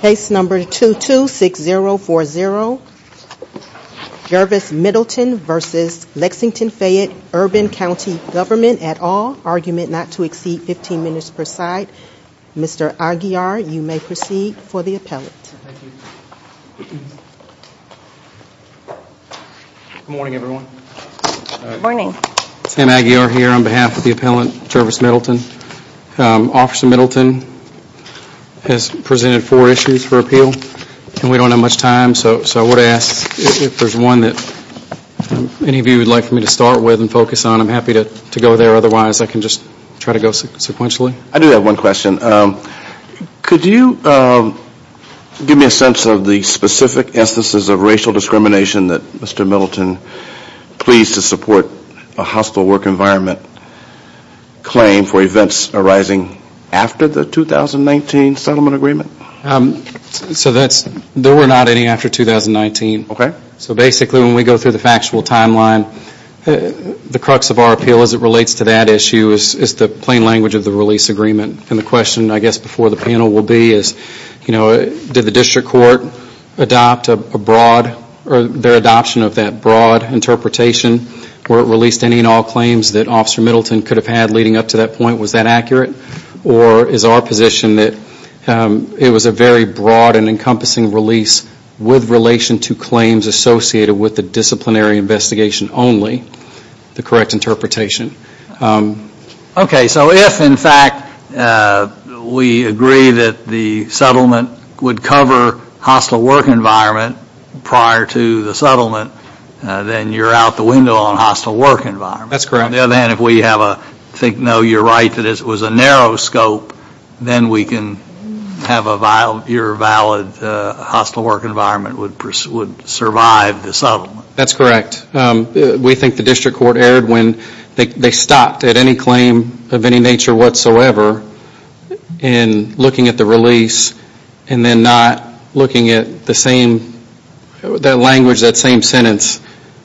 Case number 226040, Jervis Middleton v. Lexington-Fayette Urban County Government at All, argument not to exceed 15 minutes per side. Mr. Aguiar, you may proceed for the appellant. Good morning, everyone. Good morning. Sam Aguiar here on behalf of the appellant, Jervis Middleton. Officer Middleton has presented four issues for appeal and we don't have much time, so I would ask if there's one that any of you would like me to start with and focus on, I'm happy to go there, otherwise I can just try to go sequentially. I do have one question. Could you give me a sense of the specific instances of racial discrimination that Mr. Middleton pleads to support a hostile work environment claim for events arising after the 2019 settlement agreement? So there were not any after 2019. Okay. So basically when we go through the factual timeline, the crux of our appeal as it relates to that issue is the plain language of the release agreement. And the question, I guess, before the panel will be is, you know, did the district court adopt a broad or their adoption of that broad interpretation where it released any and all claims that Officer Middleton could have had leading up to that point? Was that accurate? Or is our position that it was a very broad and encompassing release with relation to claims associated with the disciplinary investigation only, the correct interpretation? Okay. So if, in fact, we agree that the settlement would cover hostile work environment prior to the settlement, then you're out the window on hostile work environment. That's correct. On the other hand, if we have a, I think, no, you're right, that it was a narrow scope, then we can have your valid hostile work environment would survive the settlement. That's correct. We think the district court erred when they stopped at any claim of any nature whatsoever in looking at the release and then not looking at the same, that language, that same sentence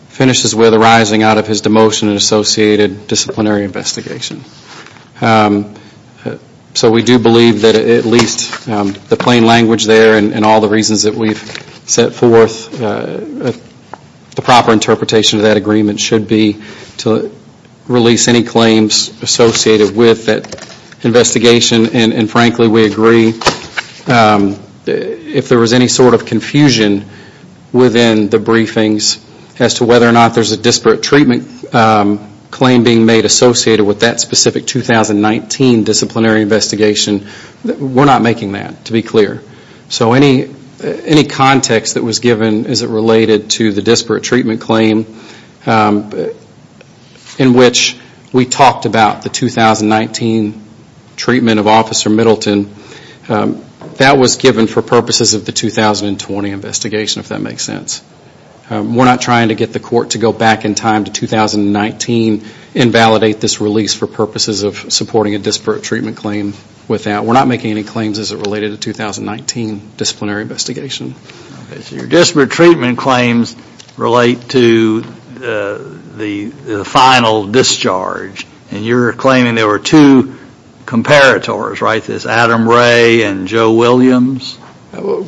finishes with arising out of his demotion and associated disciplinary investigation. So we do believe that at least the plain language there and all the reasons that we've set forth, the proper interpretation of that agreement should be to release any claims associated with that investigation. And frankly, we agree if there was any sort of confusion within the briefings as to whether or not there's a disparate treatment claim being made associated with that specific 2019 disciplinary investigation, we're not making that, to be clear. So any context that was given as it related to the disparate treatment claim in which we talked about the 2019 treatment of Officer Middleton, that was given for purposes of the 2020 investigation, if that makes sense. We're not trying to get the court to go back in time to 2019 and validate this release for purposes of supporting a disparate treatment claim. We're not making any claims as it related to 2019 disciplinary investigation. Okay, so your disparate treatment claims relate to the final discharge. And you're claiming there were two comparators, right? This Adam Ray and Joe Williams?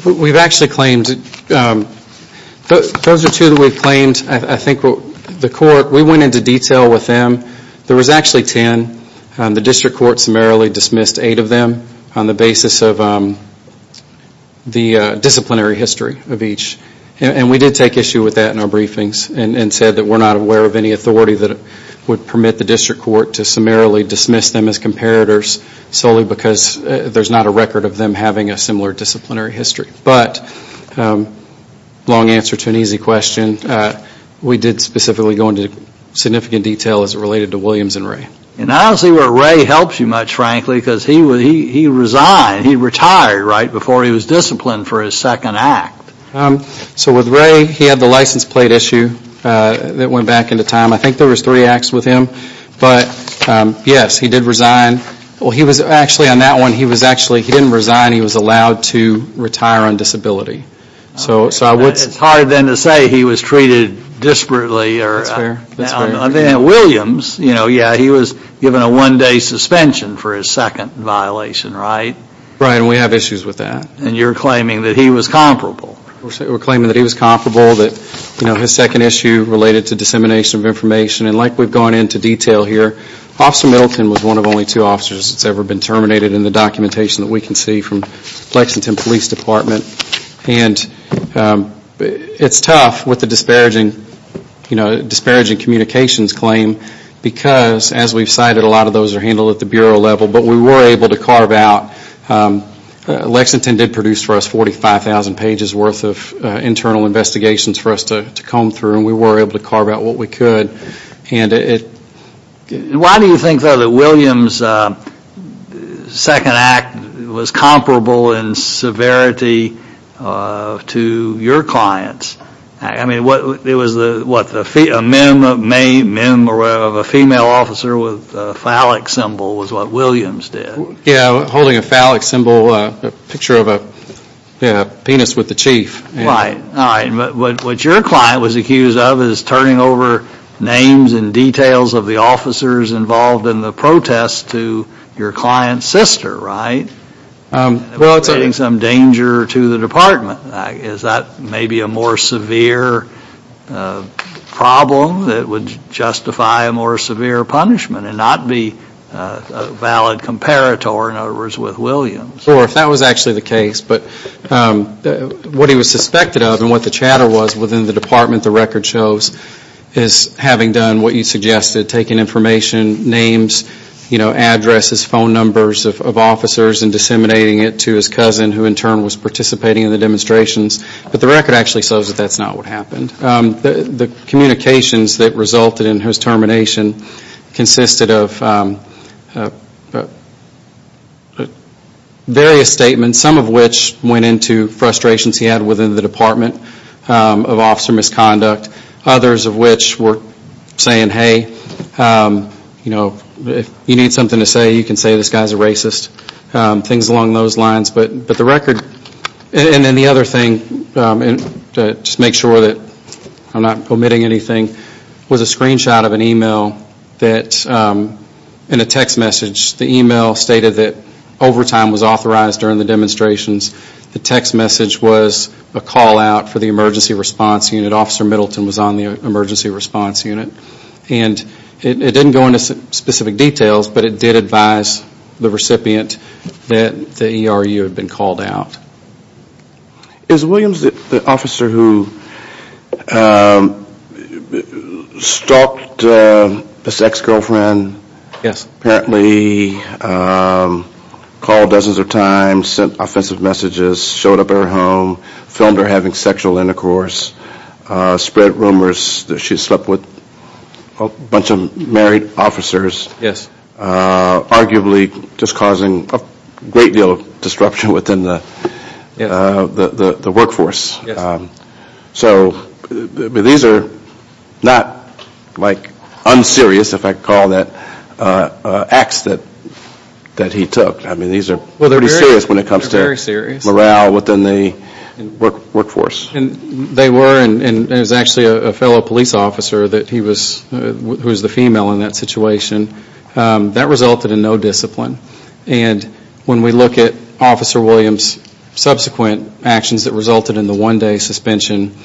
We've actually claimed, those are two that we've claimed. I think the court, we went into detail with them. There was actually ten. The district court summarily dismissed eight of them on the basis of the disciplinary history of each. And we did take issue with that in our briefings and said that we're not aware of any authority that would permit the district court to summarily dismiss them as comparators solely because there's not a record of them having a similar disciplinary history. But, long answer to an easy question, we did specifically go into significant detail as it related to Williams and Ray. And I don't see where Ray helps you much, frankly, because he resigned. He retired right before he was disciplined for his second act. So with Ray, he had the license plate issue that went back into time. I think there was three acts with him. But, yes, he did resign. Well, he was actually, on that one, he was actually, he didn't resign. He was allowed to retire on disability. It's hard then to say he was treated disparately. That's fair. Williams, yeah, he was given a one-day suspension for his second violation, right? Right, and we have issues with that. And you're claiming that he was comparable. We're claiming that he was comparable, that his second issue related to dissemination of information. And like we've gone into detail here, Officer Middleton was one of only two officers that's ever been terminated in the documentation that we can see from Lexington Police Department. And it's tough with the disparaging, you know, disparaging communications claim because, as we've cited, a lot of those are handled at the bureau level. But we were able to carve out, Lexington did produce for us 45,000 pages worth of internal investigations for us to comb through. And we were able to carve out what we could. Why do you think, though, that Williams' second act was comparable in severity to your client's? I mean, it was what, a mem of a female officer with a phallic symbol was what Williams did. Yeah, holding a phallic symbol, a picture of a penis with the chief. Right, all right. But what your client was accused of is turning over names and details of the officers involved in the protest to your client's sister, right? Well, it's a... Creating some danger to the department. Is that maybe a more severe problem that would justify a more severe punishment and not be a valid comparator, in other words, with Williams? Sure, if that was actually the case. But what he was suspected of and what the chatter was within the department, the record shows, is having done what you suggested, taking information, names, addresses, phone numbers of officers and disseminating it to his cousin who, in turn, was participating in the demonstrations. But the record actually shows that that's not what happened. The communications that resulted in his termination consisted of various statements, some of which went into frustrations he had within the department of officer misconduct, others of which were saying, hey, if you need something to say, you can say this guy's a racist, things along those lines. And then the other thing, just to make sure that I'm not omitting anything, was a screenshot of an email and a text message. The email stated that overtime was authorized during the demonstrations. The text message was a call out for the emergency response unit. Officer Middleton was on the emergency response unit. And it didn't go into specific details, but it did advise the recipient that the ERU had been called out. Is Williams the officer who stalked his ex-girlfriend? Yes. Apparently called dozens of times, sent offensive messages, showed up at her home, filmed her having sexual intercourse, spread rumors that she slept with a bunch of married officers. Arguably just causing a great deal of disruption within the workforce. Yes. So these are not like unserious, if I can call that, acts that he took. I mean, these are pretty serious when it comes to morale within the workforce. They were, and it was actually a fellow police officer who was the female in that situation. That resulted in no discipline. And when we look at Officer Williams' subsequent actions that resulted in the one-day suspension,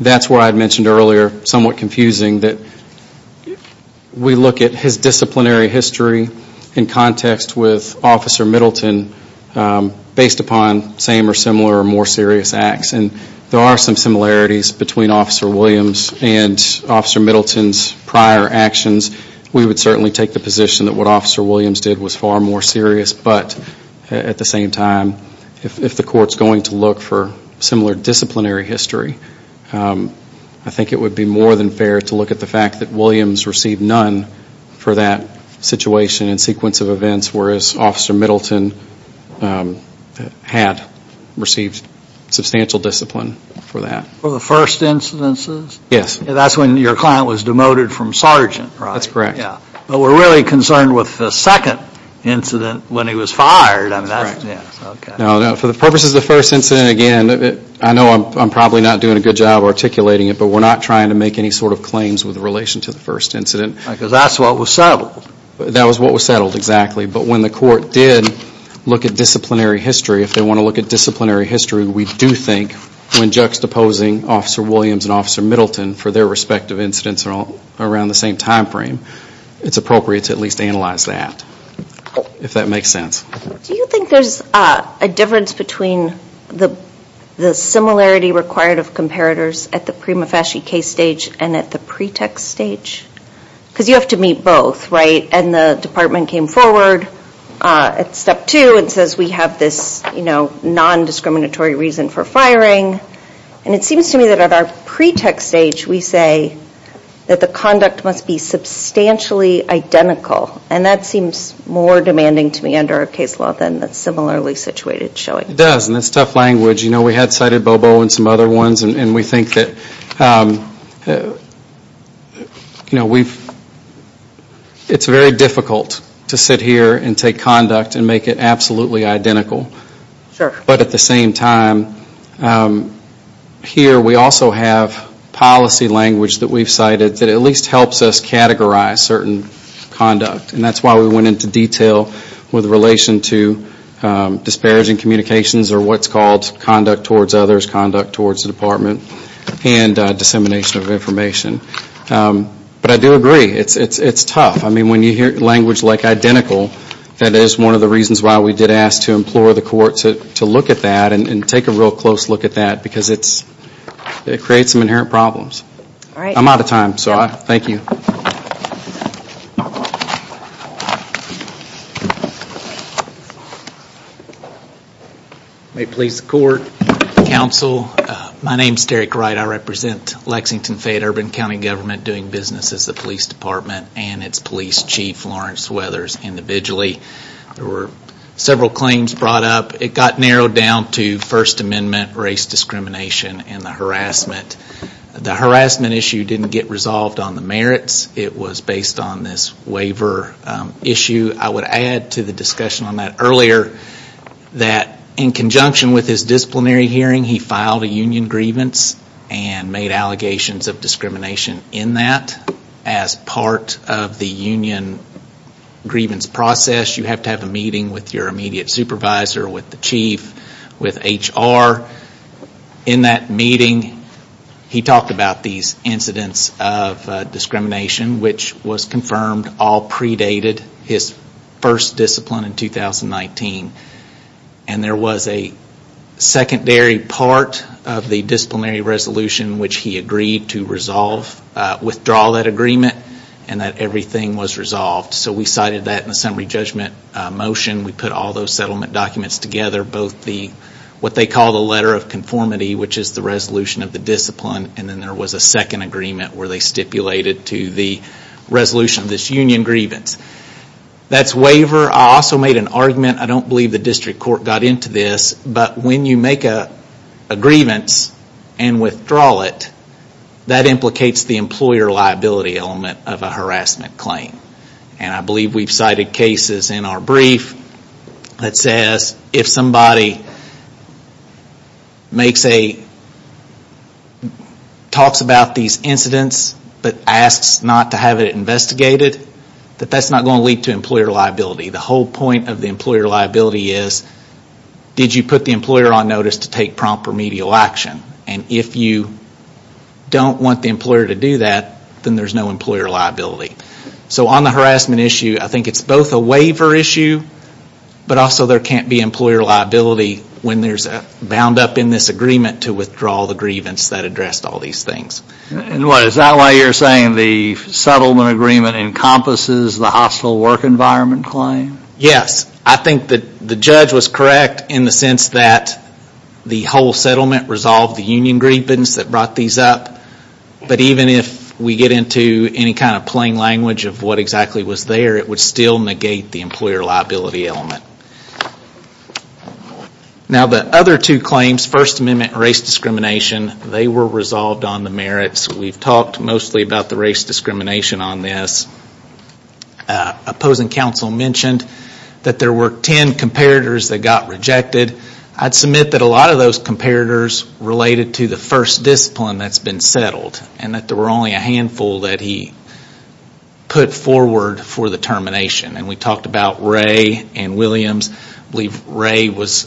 that's where I mentioned earlier, somewhat confusing, that we look at his disciplinary history in context with Officer Middleton based upon same or similar or more serious acts. And there are some similarities between Officer Williams and Officer Middleton's prior actions. We would certainly take the position that what Officer Williams did was far more serious. But at the same time, if the court's going to look for similar disciplinary history, I think it would be more than fair to look at the fact that Williams received none for that situation and sequence of events, whereas Officer Middleton had received substantial discipline for that. For the first incidences? Yes. That's when your client was demoted from sergeant, right? That's correct. Yeah. But we're really concerned with the second incident when he was fired. That's correct. Okay. For the purposes of the first incident, again, I know I'm probably not doing a good job articulating it, but we're not trying to make any sort of claims with relation to the first incident. Because that's what was settled. That was what was settled, exactly. But when the court did look at disciplinary history, if they want to look at disciplinary history, we do think when juxtaposing Officer Williams and Officer Middleton for their respective incidents around the same time frame, it's appropriate to at least analyze that, if that makes sense. Do you think there's a difference between the similarity required of comparators at the prima facie case stage and at the pretext stage? Because you have to meet both, right? And the department came forward at step two and says we have this non-discriminatory reason for firing. And it seems to me that at our pretext stage, we say that the conduct must be substantially identical. And that seems more demanding to me under our case law than the similarly situated showing. It does, and that's tough language. You know, we had cited BOBO and some other ones, and we think that, you know, it's very difficult to sit here and take conduct and make it absolutely identical. But at the same time, here we also have policy language that we've cited that at least helps us categorize certain conduct. And that's why we went into detail with relation to disparaging communications or what's called conduct towards others, conduct towards the department, and dissemination of information. But I do agree. It's tough. I mean, when you hear language like identical, that is one of the reasons why we did ask to implore the court to look at that and take a real close look at that because it creates some inherent problems. All right. I'm out of time, so I thank you. May it please the court, counsel. My name is Derek Wright. I represent Lexington-Fayette-Urban County Government doing business as the police department and its police chief, Lawrence Weathers, individually. There were several claims brought up. It got narrowed down to First Amendment race discrimination and the harassment. The harassment issue didn't get resolved on the merits. It was based on this waiver issue. I would add to the discussion on that earlier that in conjunction with his disciplinary hearing, he filed a union grievance and made allegations of discrimination in that. As part of the union grievance process, you have to have a meeting with your immediate supervisor, with the chief, with HR. In that meeting, he talked about these incidents of discrimination, which was confirmed all predated his first discipline in 2019. And there was a secondary part of the disciplinary resolution, which he agreed to withdraw that agreement and that everything was resolved. So we cited that in the summary judgment motion. We put all those settlement documents together, both what they call the letter of conformity, which is the resolution of the discipline, and then there was a second agreement where they stipulated to the resolution of this union grievance. That's waiver. I also made an argument. I don't believe the district court got into this, but when you make a grievance and withdraw it, that implicates the employer liability element of a harassment claim. And I believe we've cited cases in our brief that says if somebody talks about these incidents but asks not to have it investigated, that that's not going to lead to employer liability. The whole point of the employer liability is, did you put the employer on notice to take prompt remedial action? And if you don't want the employer to do that, then there's no employer liability. So on the harassment issue, I think it's both a waiver issue, but also there can't be employer liability when there's a bound up in this agreement to withdraw the grievance that addressed all these things. Is that why you're saying the settlement agreement encompasses the hostile work environment claim? Yes. I think that the judge was correct in the sense that the whole settlement resolved the union grievance that brought these up. But even if we get into any kind of plain language of what exactly was there, it would still negate the employer liability element. Now the other two claims, First Amendment and race discrimination, they were resolved on the merits. We've talked mostly about the race discrimination on this. Opposing counsel mentioned that there were ten comparators that got rejected. I'd submit that a lot of those comparators related to the first discipline that's been settled and that there were only a handful that he put forward for the termination. And we talked about Ray and Williams. I believe Ray was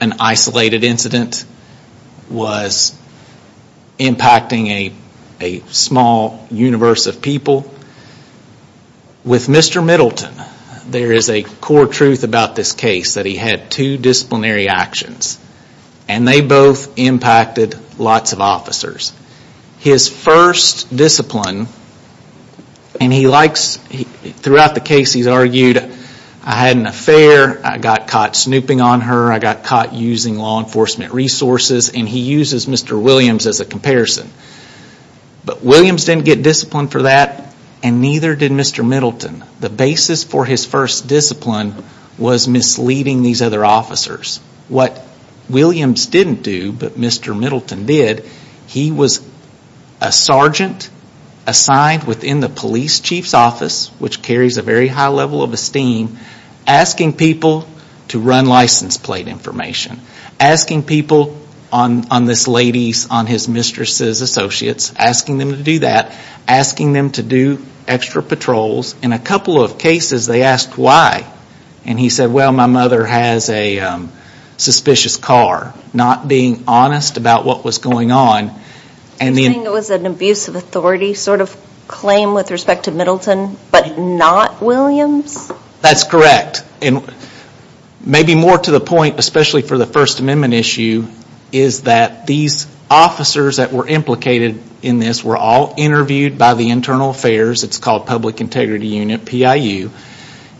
an isolated incident, was impacting a small universe of people. With Mr. Middleton, there is a core truth about this case that he had two disciplinary actions and they both impacted lots of officers. His first discipline, and throughout the case he's argued, I had an affair, I got caught snooping on her, I got caught using law enforcement resources, and he uses Mr. Williams as a comparison. But Williams didn't get disciplined for that and neither did Mr. Middleton. The basis for his first discipline was misleading these other officers. What Williams didn't do but Mr. Middleton did, he was a sergeant assigned within the police chief's office, which carries a very high level of esteem, asking people to run license plate information. Asking people on this lady's, on his mistress's associates, asking them to do that, asking them to do extra patrols. In a couple of cases they asked why. And he said, well, my mother has a suspicious car. Not being honest about what was going on. You're saying it was an abuse of authority sort of claim with respect to Middleton but not Williams? That's correct. Maybe more to the point, especially for the First Amendment issue, is that these officers that were implicated in this were all interviewed by the Internal Affairs. It's called Public Integrity Unit, PIU.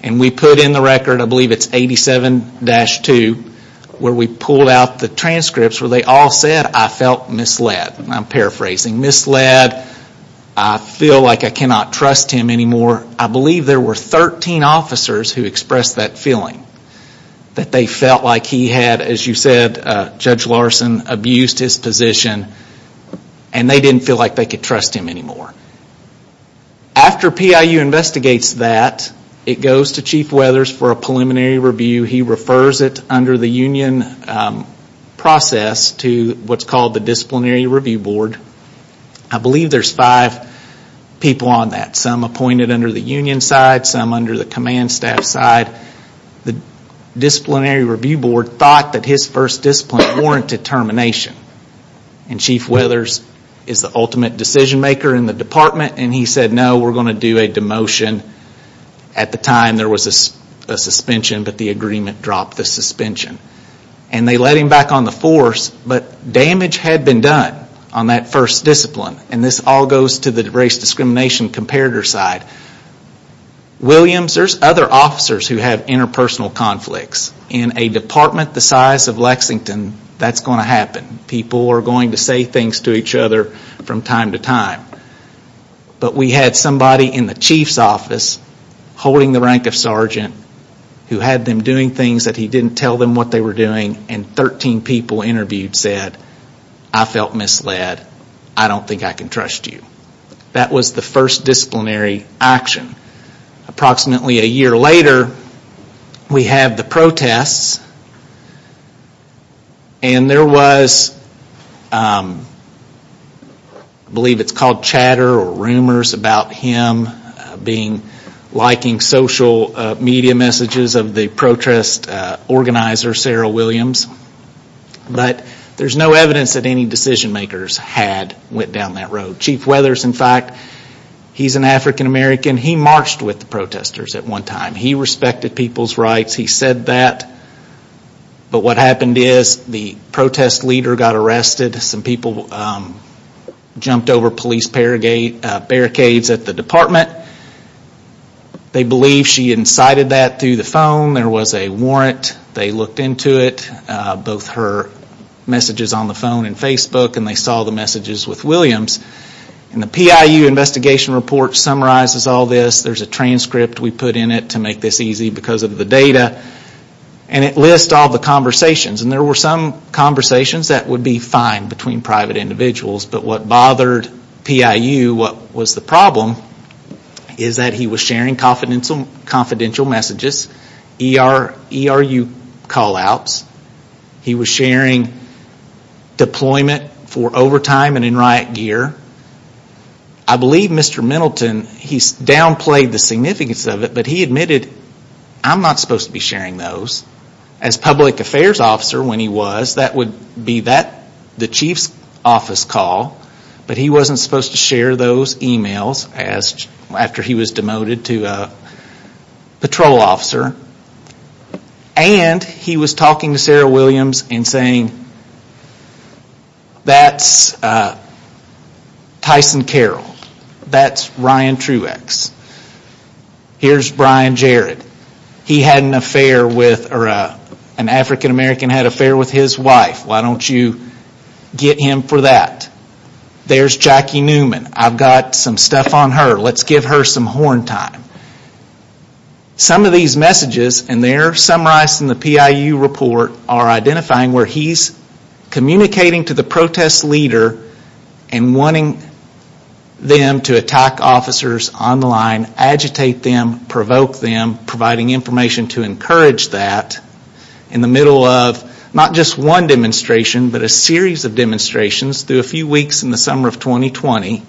And we put in the record, I believe it's 87-2, where we pulled out the transcripts where they all said, I felt misled. I'm paraphrasing. Misled, I feel like I cannot trust him anymore. I believe there were 13 officers who expressed that feeling. That they felt like he had, as you said, Judge Larson abused his position and they didn't feel like they could trust him anymore. After PIU investigates that, it goes to Chief Weathers for a preliminary review. He refers it under the union process to what's called the Disciplinary Review Board. I believe there's five people on that. Some appointed under the union side, some under the command staff side. The Disciplinary Review Board thought that his first discipline warranted termination. And Chief Weathers is the ultimate decision maker in the department and he said, no, we're going to do a demotion. At the time there was a suspension, but the agreement dropped the suspension. And they let him back on the force, but damage had been done on that first discipline. And this all goes to the race discrimination comparator side. Williams, there's other officers who have interpersonal conflicts. In a department the size of Lexington, that's going to happen. People are going to say things to each other from time to time. But we had somebody in the chief's office holding the rank of sergeant who had them doing things that he didn't tell them what they were doing and 13 people interviewed said, I felt misled. I don't think I can trust you. That was the first disciplinary action. Approximately a year later, we have the protests. And there was, I believe it's called chatter or rumors about him liking social media messages of the protest organizer, Sarah Williams. But there's no evidence that any decision makers had went down that road. Chief Weathers, in fact, he's an African American. He marched with the protesters at one time. He respected people's rights. He said that. But what happened is the protest leader got arrested. Some people jumped over police barricades at the department. They believe she incited that through the phone. There was a warrant. They looked into it, both her messages on the phone and Facebook. And they saw the messages with Williams. And the PIU investigation report summarizes all this. There's a transcript we put in it to make this easy because of the data. And it lists all the conversations. And there were some conversations that would be fine between private individuals. But what bothered PIU, what was the problem, is that he was sharing confidential messages, ERU call-outs. He was sharing deployment for overtime and in riot gear. I believe Mr. Middleton, he downplayed the significance of it, but he admitted, I'm not supposed to be sharing those. As public affairs officer when he was, that would be the chief's office call. But he wasn't supposed to share those emails after he was demoted to patrol officer. And he was talking to Sarah Williams and saying, that's Tyson Carroll. That's Ryan Truex. Here's Brian Jarrett. He had an affair with, or an African-American had an affair with his wife. Why don't you get him for that? There's Jackie Newman. I've got some stuff on her. Let's give her some horn time. Some of these messages, and they're summarized in the PIU report, are identifying where he's communicating to the protest leader and wanting them to attack officers on the line, agitate them, provoke them, and providing information to encourage that, in the middle of not just one demonstration, but a series of demonstrations through a few weeks in the summer of 2020.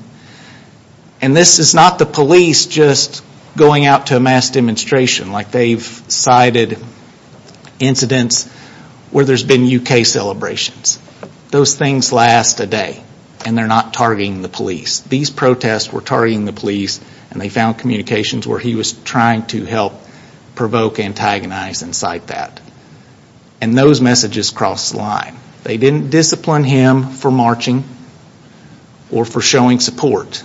And this is not the police just going out to a mass demonstration, like they've cited incidents where there's been UK celebrations. Those things last a day, and they're not targeting the police. These protests were targeting the police, and they found communications where he was trying to help provoke, antagonize, and cite that. And those messages crossed the line. They didn't discipline him for marching or for showing support.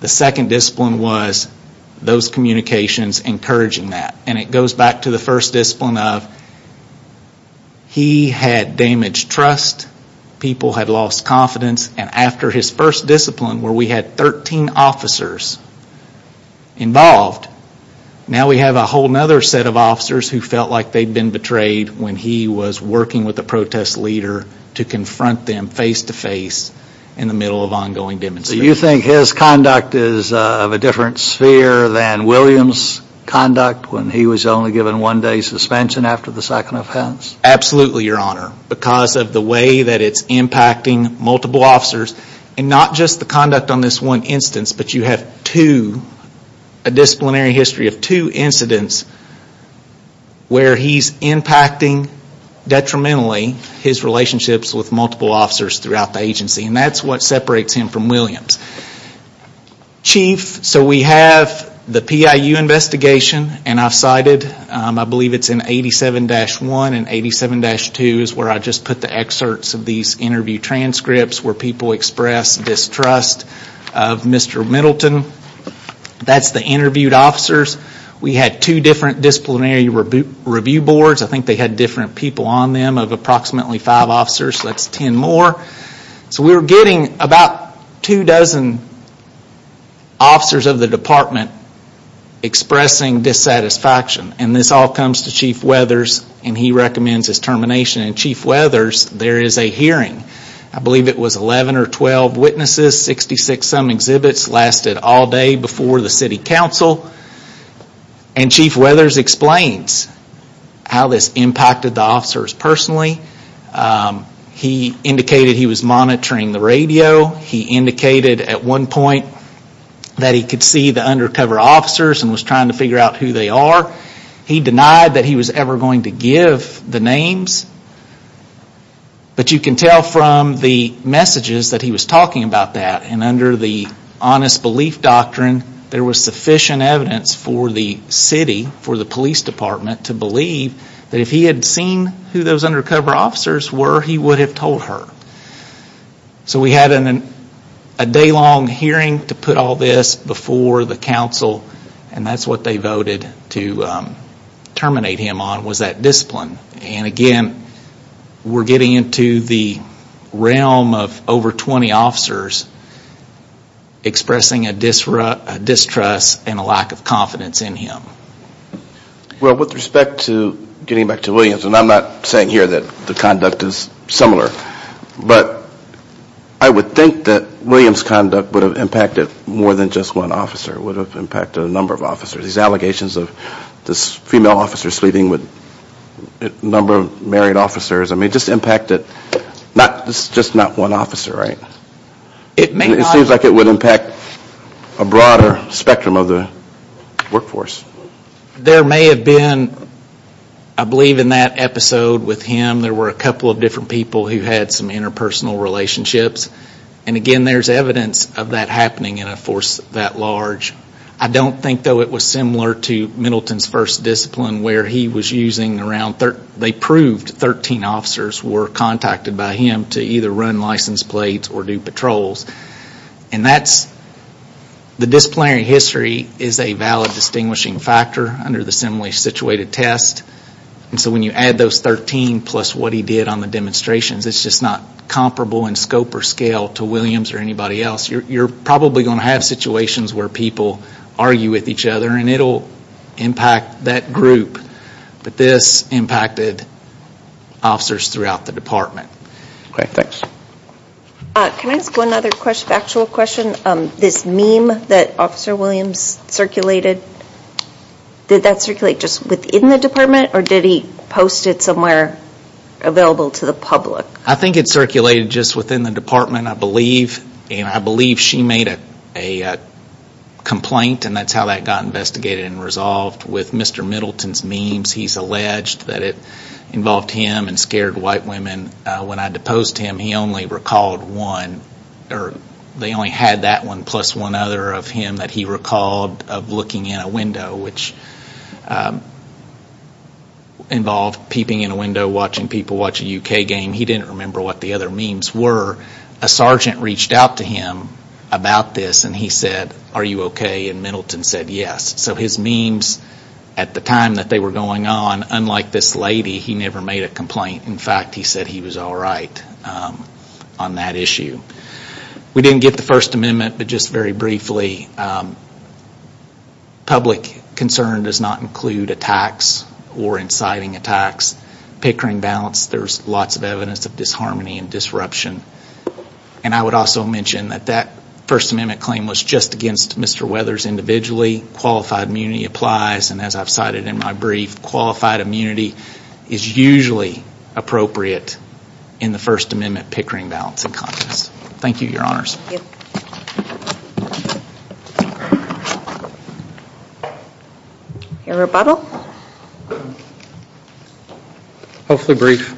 The second discipline was those communications encouraging that. And it goes back to the first discipline of he had damaged trust. People had lost confidence. And after his first discipline, where we had 13 officers involved, now we have a whole other set of officers who felt like they'd been betrayed when he was working with the protest leader to confront them face-to-face in the middle of ongoing demonstrations. So you think his conduct is of a different sphere than Williams' conduct when he was only given one day's suspension after the second offense? Absolutely, Your Honor. Because of the way that it's impacting multiple officers, and not just the conduct on this one instance, but you have a disciplinary history of two incidents where he's impacting detrimentally his relationships with multiple officers throughout the agency. And that's what separates him from Williams. Chief, so we have the PIU investigation, and I've cited, I believe it's in 87-1 and 87-2 is where I just put the excerpts of these interview transcripts where people expressed distrust of Mr. Middleton. That's the interviewed officers. We had two different disciplinary review boards. I think they had different people on them of approximately five officers, so that's ten more. So we were getting about two dozen officers of the department expressing dissatisfaction. And this all comes to Chief Weathers, and he recommends his termination. And Chief Weathers, there is a hearing. I believe it was 11 or 12 witnesses, 66-some exhibits, lasted all day before the city council. And Chief Weathers explains how this impacted the officers personally. He indicated he was monitoring the radio. He indicated at one point that he could see the undercover officers and was trying to figure out who they are. He denied that he was ever going to give the names. But you can tell from the messages that he was talking about that, and under the honest belief doctrine, there was sufficient evidence for the city, for the police department, to believe that if he had seen who those undercover officers were, he would have told her. So we had a day-long hearing to put all this before the council, and that's what they voted to terminate him on was that discipline. And again, we're getting into the realm of over 20 officers expressing a distrust and a lack of confidence in him. Well, with respect to getting back to Williams, and I'm not saying here that the conduct is similar, but I would think that Williams' conduct would have impacted more than just one officer. It would have impacted a number of officers. These allegations of this female officer sleeping with a number of married officers, I mean, just impacted just not one officer, right? It seems like it would impact a broader spectrum of the workforce. There may have been, I believe in that episode with him, there were a couple of different people who had some interpersonal relationships. And again, there's evidence of that happening in a force that large. I don't think, though, it was similar to Middleton's first discipline where they proved 13 officers were contacted by him to either run license plates or do patrols. The disciplinary history is a valid distinguishing factor under the similarly situated test. And so when you add those 13 plus what he did on the demonstrations, it's just not comparable in scope or scale to Williams or anybody else. You're probably going to have situations where people argue with each other and it will impact that group. But this impacted officers throughout the department. Okay, thanks. Can I ask one other actual question? This meme that Officer Williams circulated, did that circulate just within the department or did he post it somewhere available to the public? I think it circulated just within the department, I believe. And I believe she made a complaint, and that's how that got investigated and resolved with Mr. Middleton's memes. He's alleged that it involved him and scared white women. When I deposed him, he only recalled one, or they only had that one plus one other of him that he recalled of looking in a window, which involved peeping in a window, watching people watch a U.K. game. He didn't remember what the other memes were. A sergeant reached out to him about this and he said, are you okay, and Middleton said yes. So his memes at the time that they were going on, unlike this lady, he never made a complaint. In fact, he said he was all right on that issue. We didn't get the First Amendment, but just very briefly, public concern does not include attacks or inciting attacks. Pickering balance, there's lots of evidence of disharmony and disruption. And I would also mention that that First Amendment claim was just against Mr. Weathers individually. Qualified immunity applies, and as I've cited in my brief, qualified immunity is usually appropriate in the First Amendment Pickering balance in Congress. Thank you, Your Honors. Any rebuttal? Hopefully brief.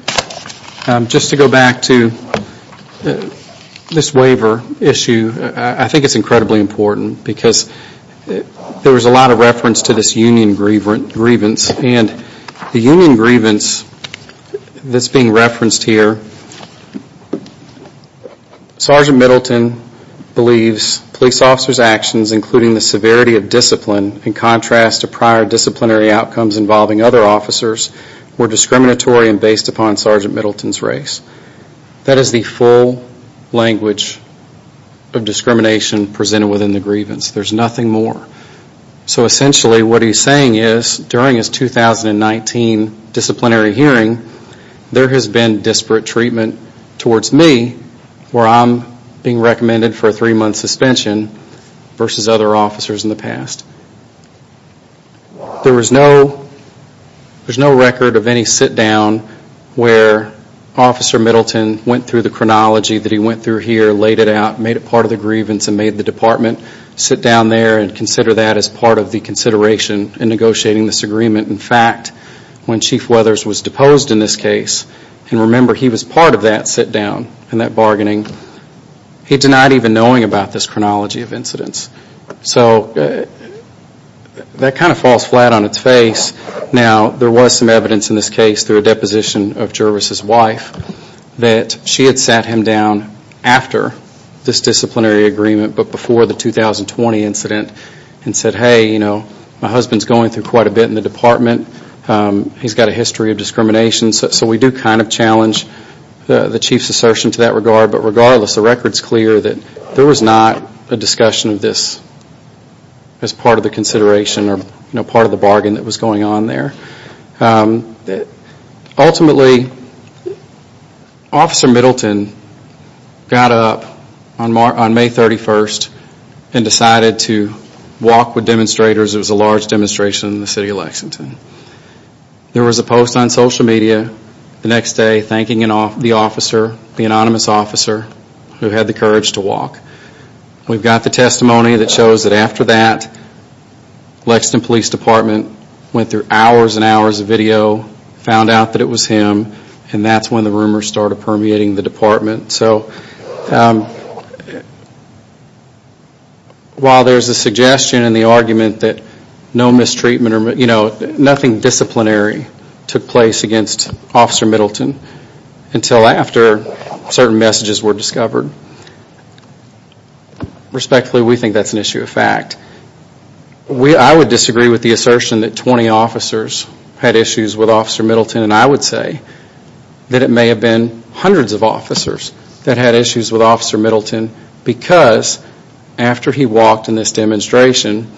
Just to go back to this waiver issue, I think it's incredibly important because there was a lot of reference to this union grievance, and the union grievance that's being referenced here, Sergeant Middleton believes police officers' actions, including the severity of discipline, in contrast to prior disciplinary outcomes involving other officers, were discriminatory and based upon Sergeant Middleton's race. That is the full language of discrimination presented within the grievance. There's nothing more. So essentially what he's saying is during his 2019 disciplinary hearing, there has been disparate treatment towards me, where I'm being recommended for a three-month suspension, versus other officers in the past. There was no record of any sit-down where Officer Middleton went through the chronology that he went through here, laid it out, made it part of the grievance, and made the department sit down there and consider that as part of the consideration in negotiating this agreement. In fact, when Chief Weathers was deposed in this case, and remember he was part of that sit-down and that bargaining, he denied even knowing about this chronology of incidents. So that kind of falls flat on its face. Now, there was some evidence in this case through a deposition of Jervis' wife that she had sat him down after this disciplinary agreement, but before the 2020 incident, and said, hey, my husband's going through quite a bit in the department. He's got a history of discrimination. So we do kind of challenge the Chief's assertion to that regard. But regardless, the record's clear that there was not a discussion of this as part of the consideration or part of the bargain that was going on there. Ultimately, Officer Middleton got up on May 31st and decided to walk with demonstrators. It was a large demonstration in the city of Lexington. There was a post on social media the next day thanking the officer, the anonymous officer, who had the courage to walk. We've got the testimony that shows that after that, Lexington Police Department went through hours and hours of video, found out that it was him, and that's when the rumors started permeating the department. While there's a suggestion and the argument that no mistreatment, nothing disciplinary took place against Officer Middleton, until after certain messages were discovered. Respectfully, we think that's an issue of fact. I would disagree with the assertion that 20 officers had issues with Officer Middleton, and I would say that it may have been hundreds of officers that had issues with Officer Middleton because after he walked in this demonstration,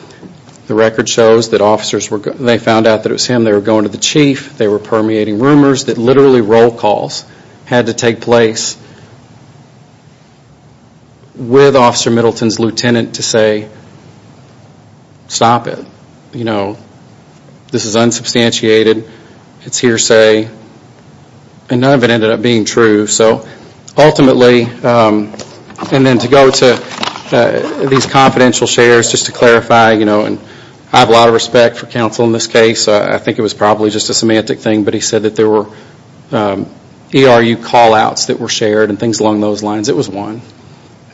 the record shows that they found out that it was him, they were going to the Chief, they were permeating rumors that literally roll calls had to take place with Officer Middleton's lieutenant to say, stop it, this is unsubstantiated, it's hearsay, and none of it ended up being true. Ultimately, and then to go to these confidential shares, just to clarify, I have a lot of respect for counsel in this case. I think it was probably just a semantic thing, but he said that there were ERU call-outs that were shared and things along those lines. It was one.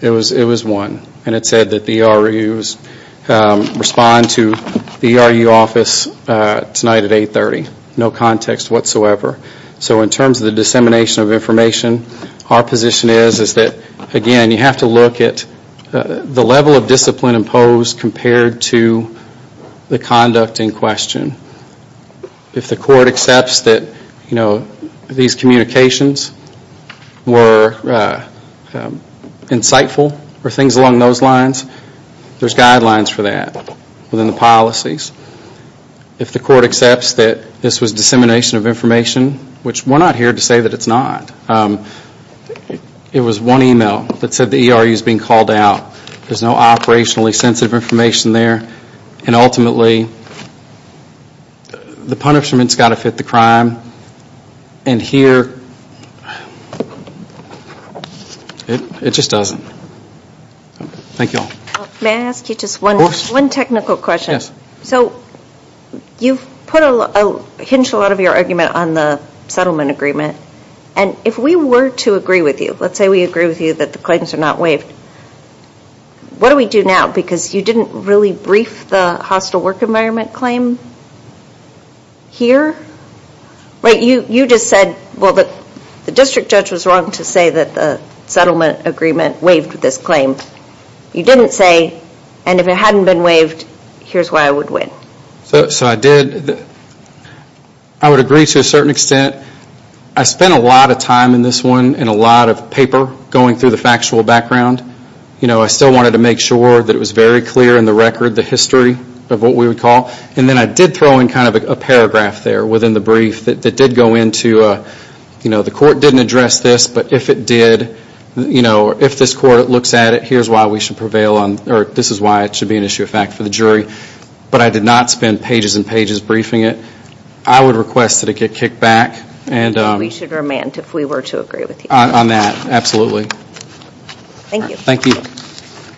It was one. And it said that the ERU's respond to the ERU office tonight at 830. No context whatsoever. So in terms of the dissemination of information, our position is that, again, you have to look at the level of discipline imposed compared to the conduct in question. If the court accepts that these communications were insightful or things along those lines, there's guidelines for that within the policies. If the court accepts that this was dissemination of information, which we're not here to say that it's not, it was one email that said the ERU's being called out. There's no operationally sensitive information there, and ultimately the punishment's got to fit the crime, and here it just doesn't. Thank you all. May I ask you just one technical question? Yes. So you've hinged a lot of your argument on the settlement agreement, and if we were to agree with you, let's say we agree with you that the claims are not waived, what do we do now? Because you didn't really brief the hostile work environment claim here. You just said, well, the district judge was wrong to say that the settlement agreement waived this claim. You didn't say, and if it hadn't been waived, here's why I would win. So I did. I would agree to a certain extent. I spent a lot of time in this one and a lot of paper going through the factual background. I still wanted to make sure that it was very clear in the record, the history of what we would call, and then I did throw in kind of a paragraph there within the brief that did go into, the court didn't address this, but if it did, if this court looks at it, here's why we should prevail on, or this is why it should be an issue of fact for the jury. But I did not spend pages and pages briefing it. I would request that it get kicked back. We should remand if we were to agree with you. On that, absolutely. Thank you. Thank you.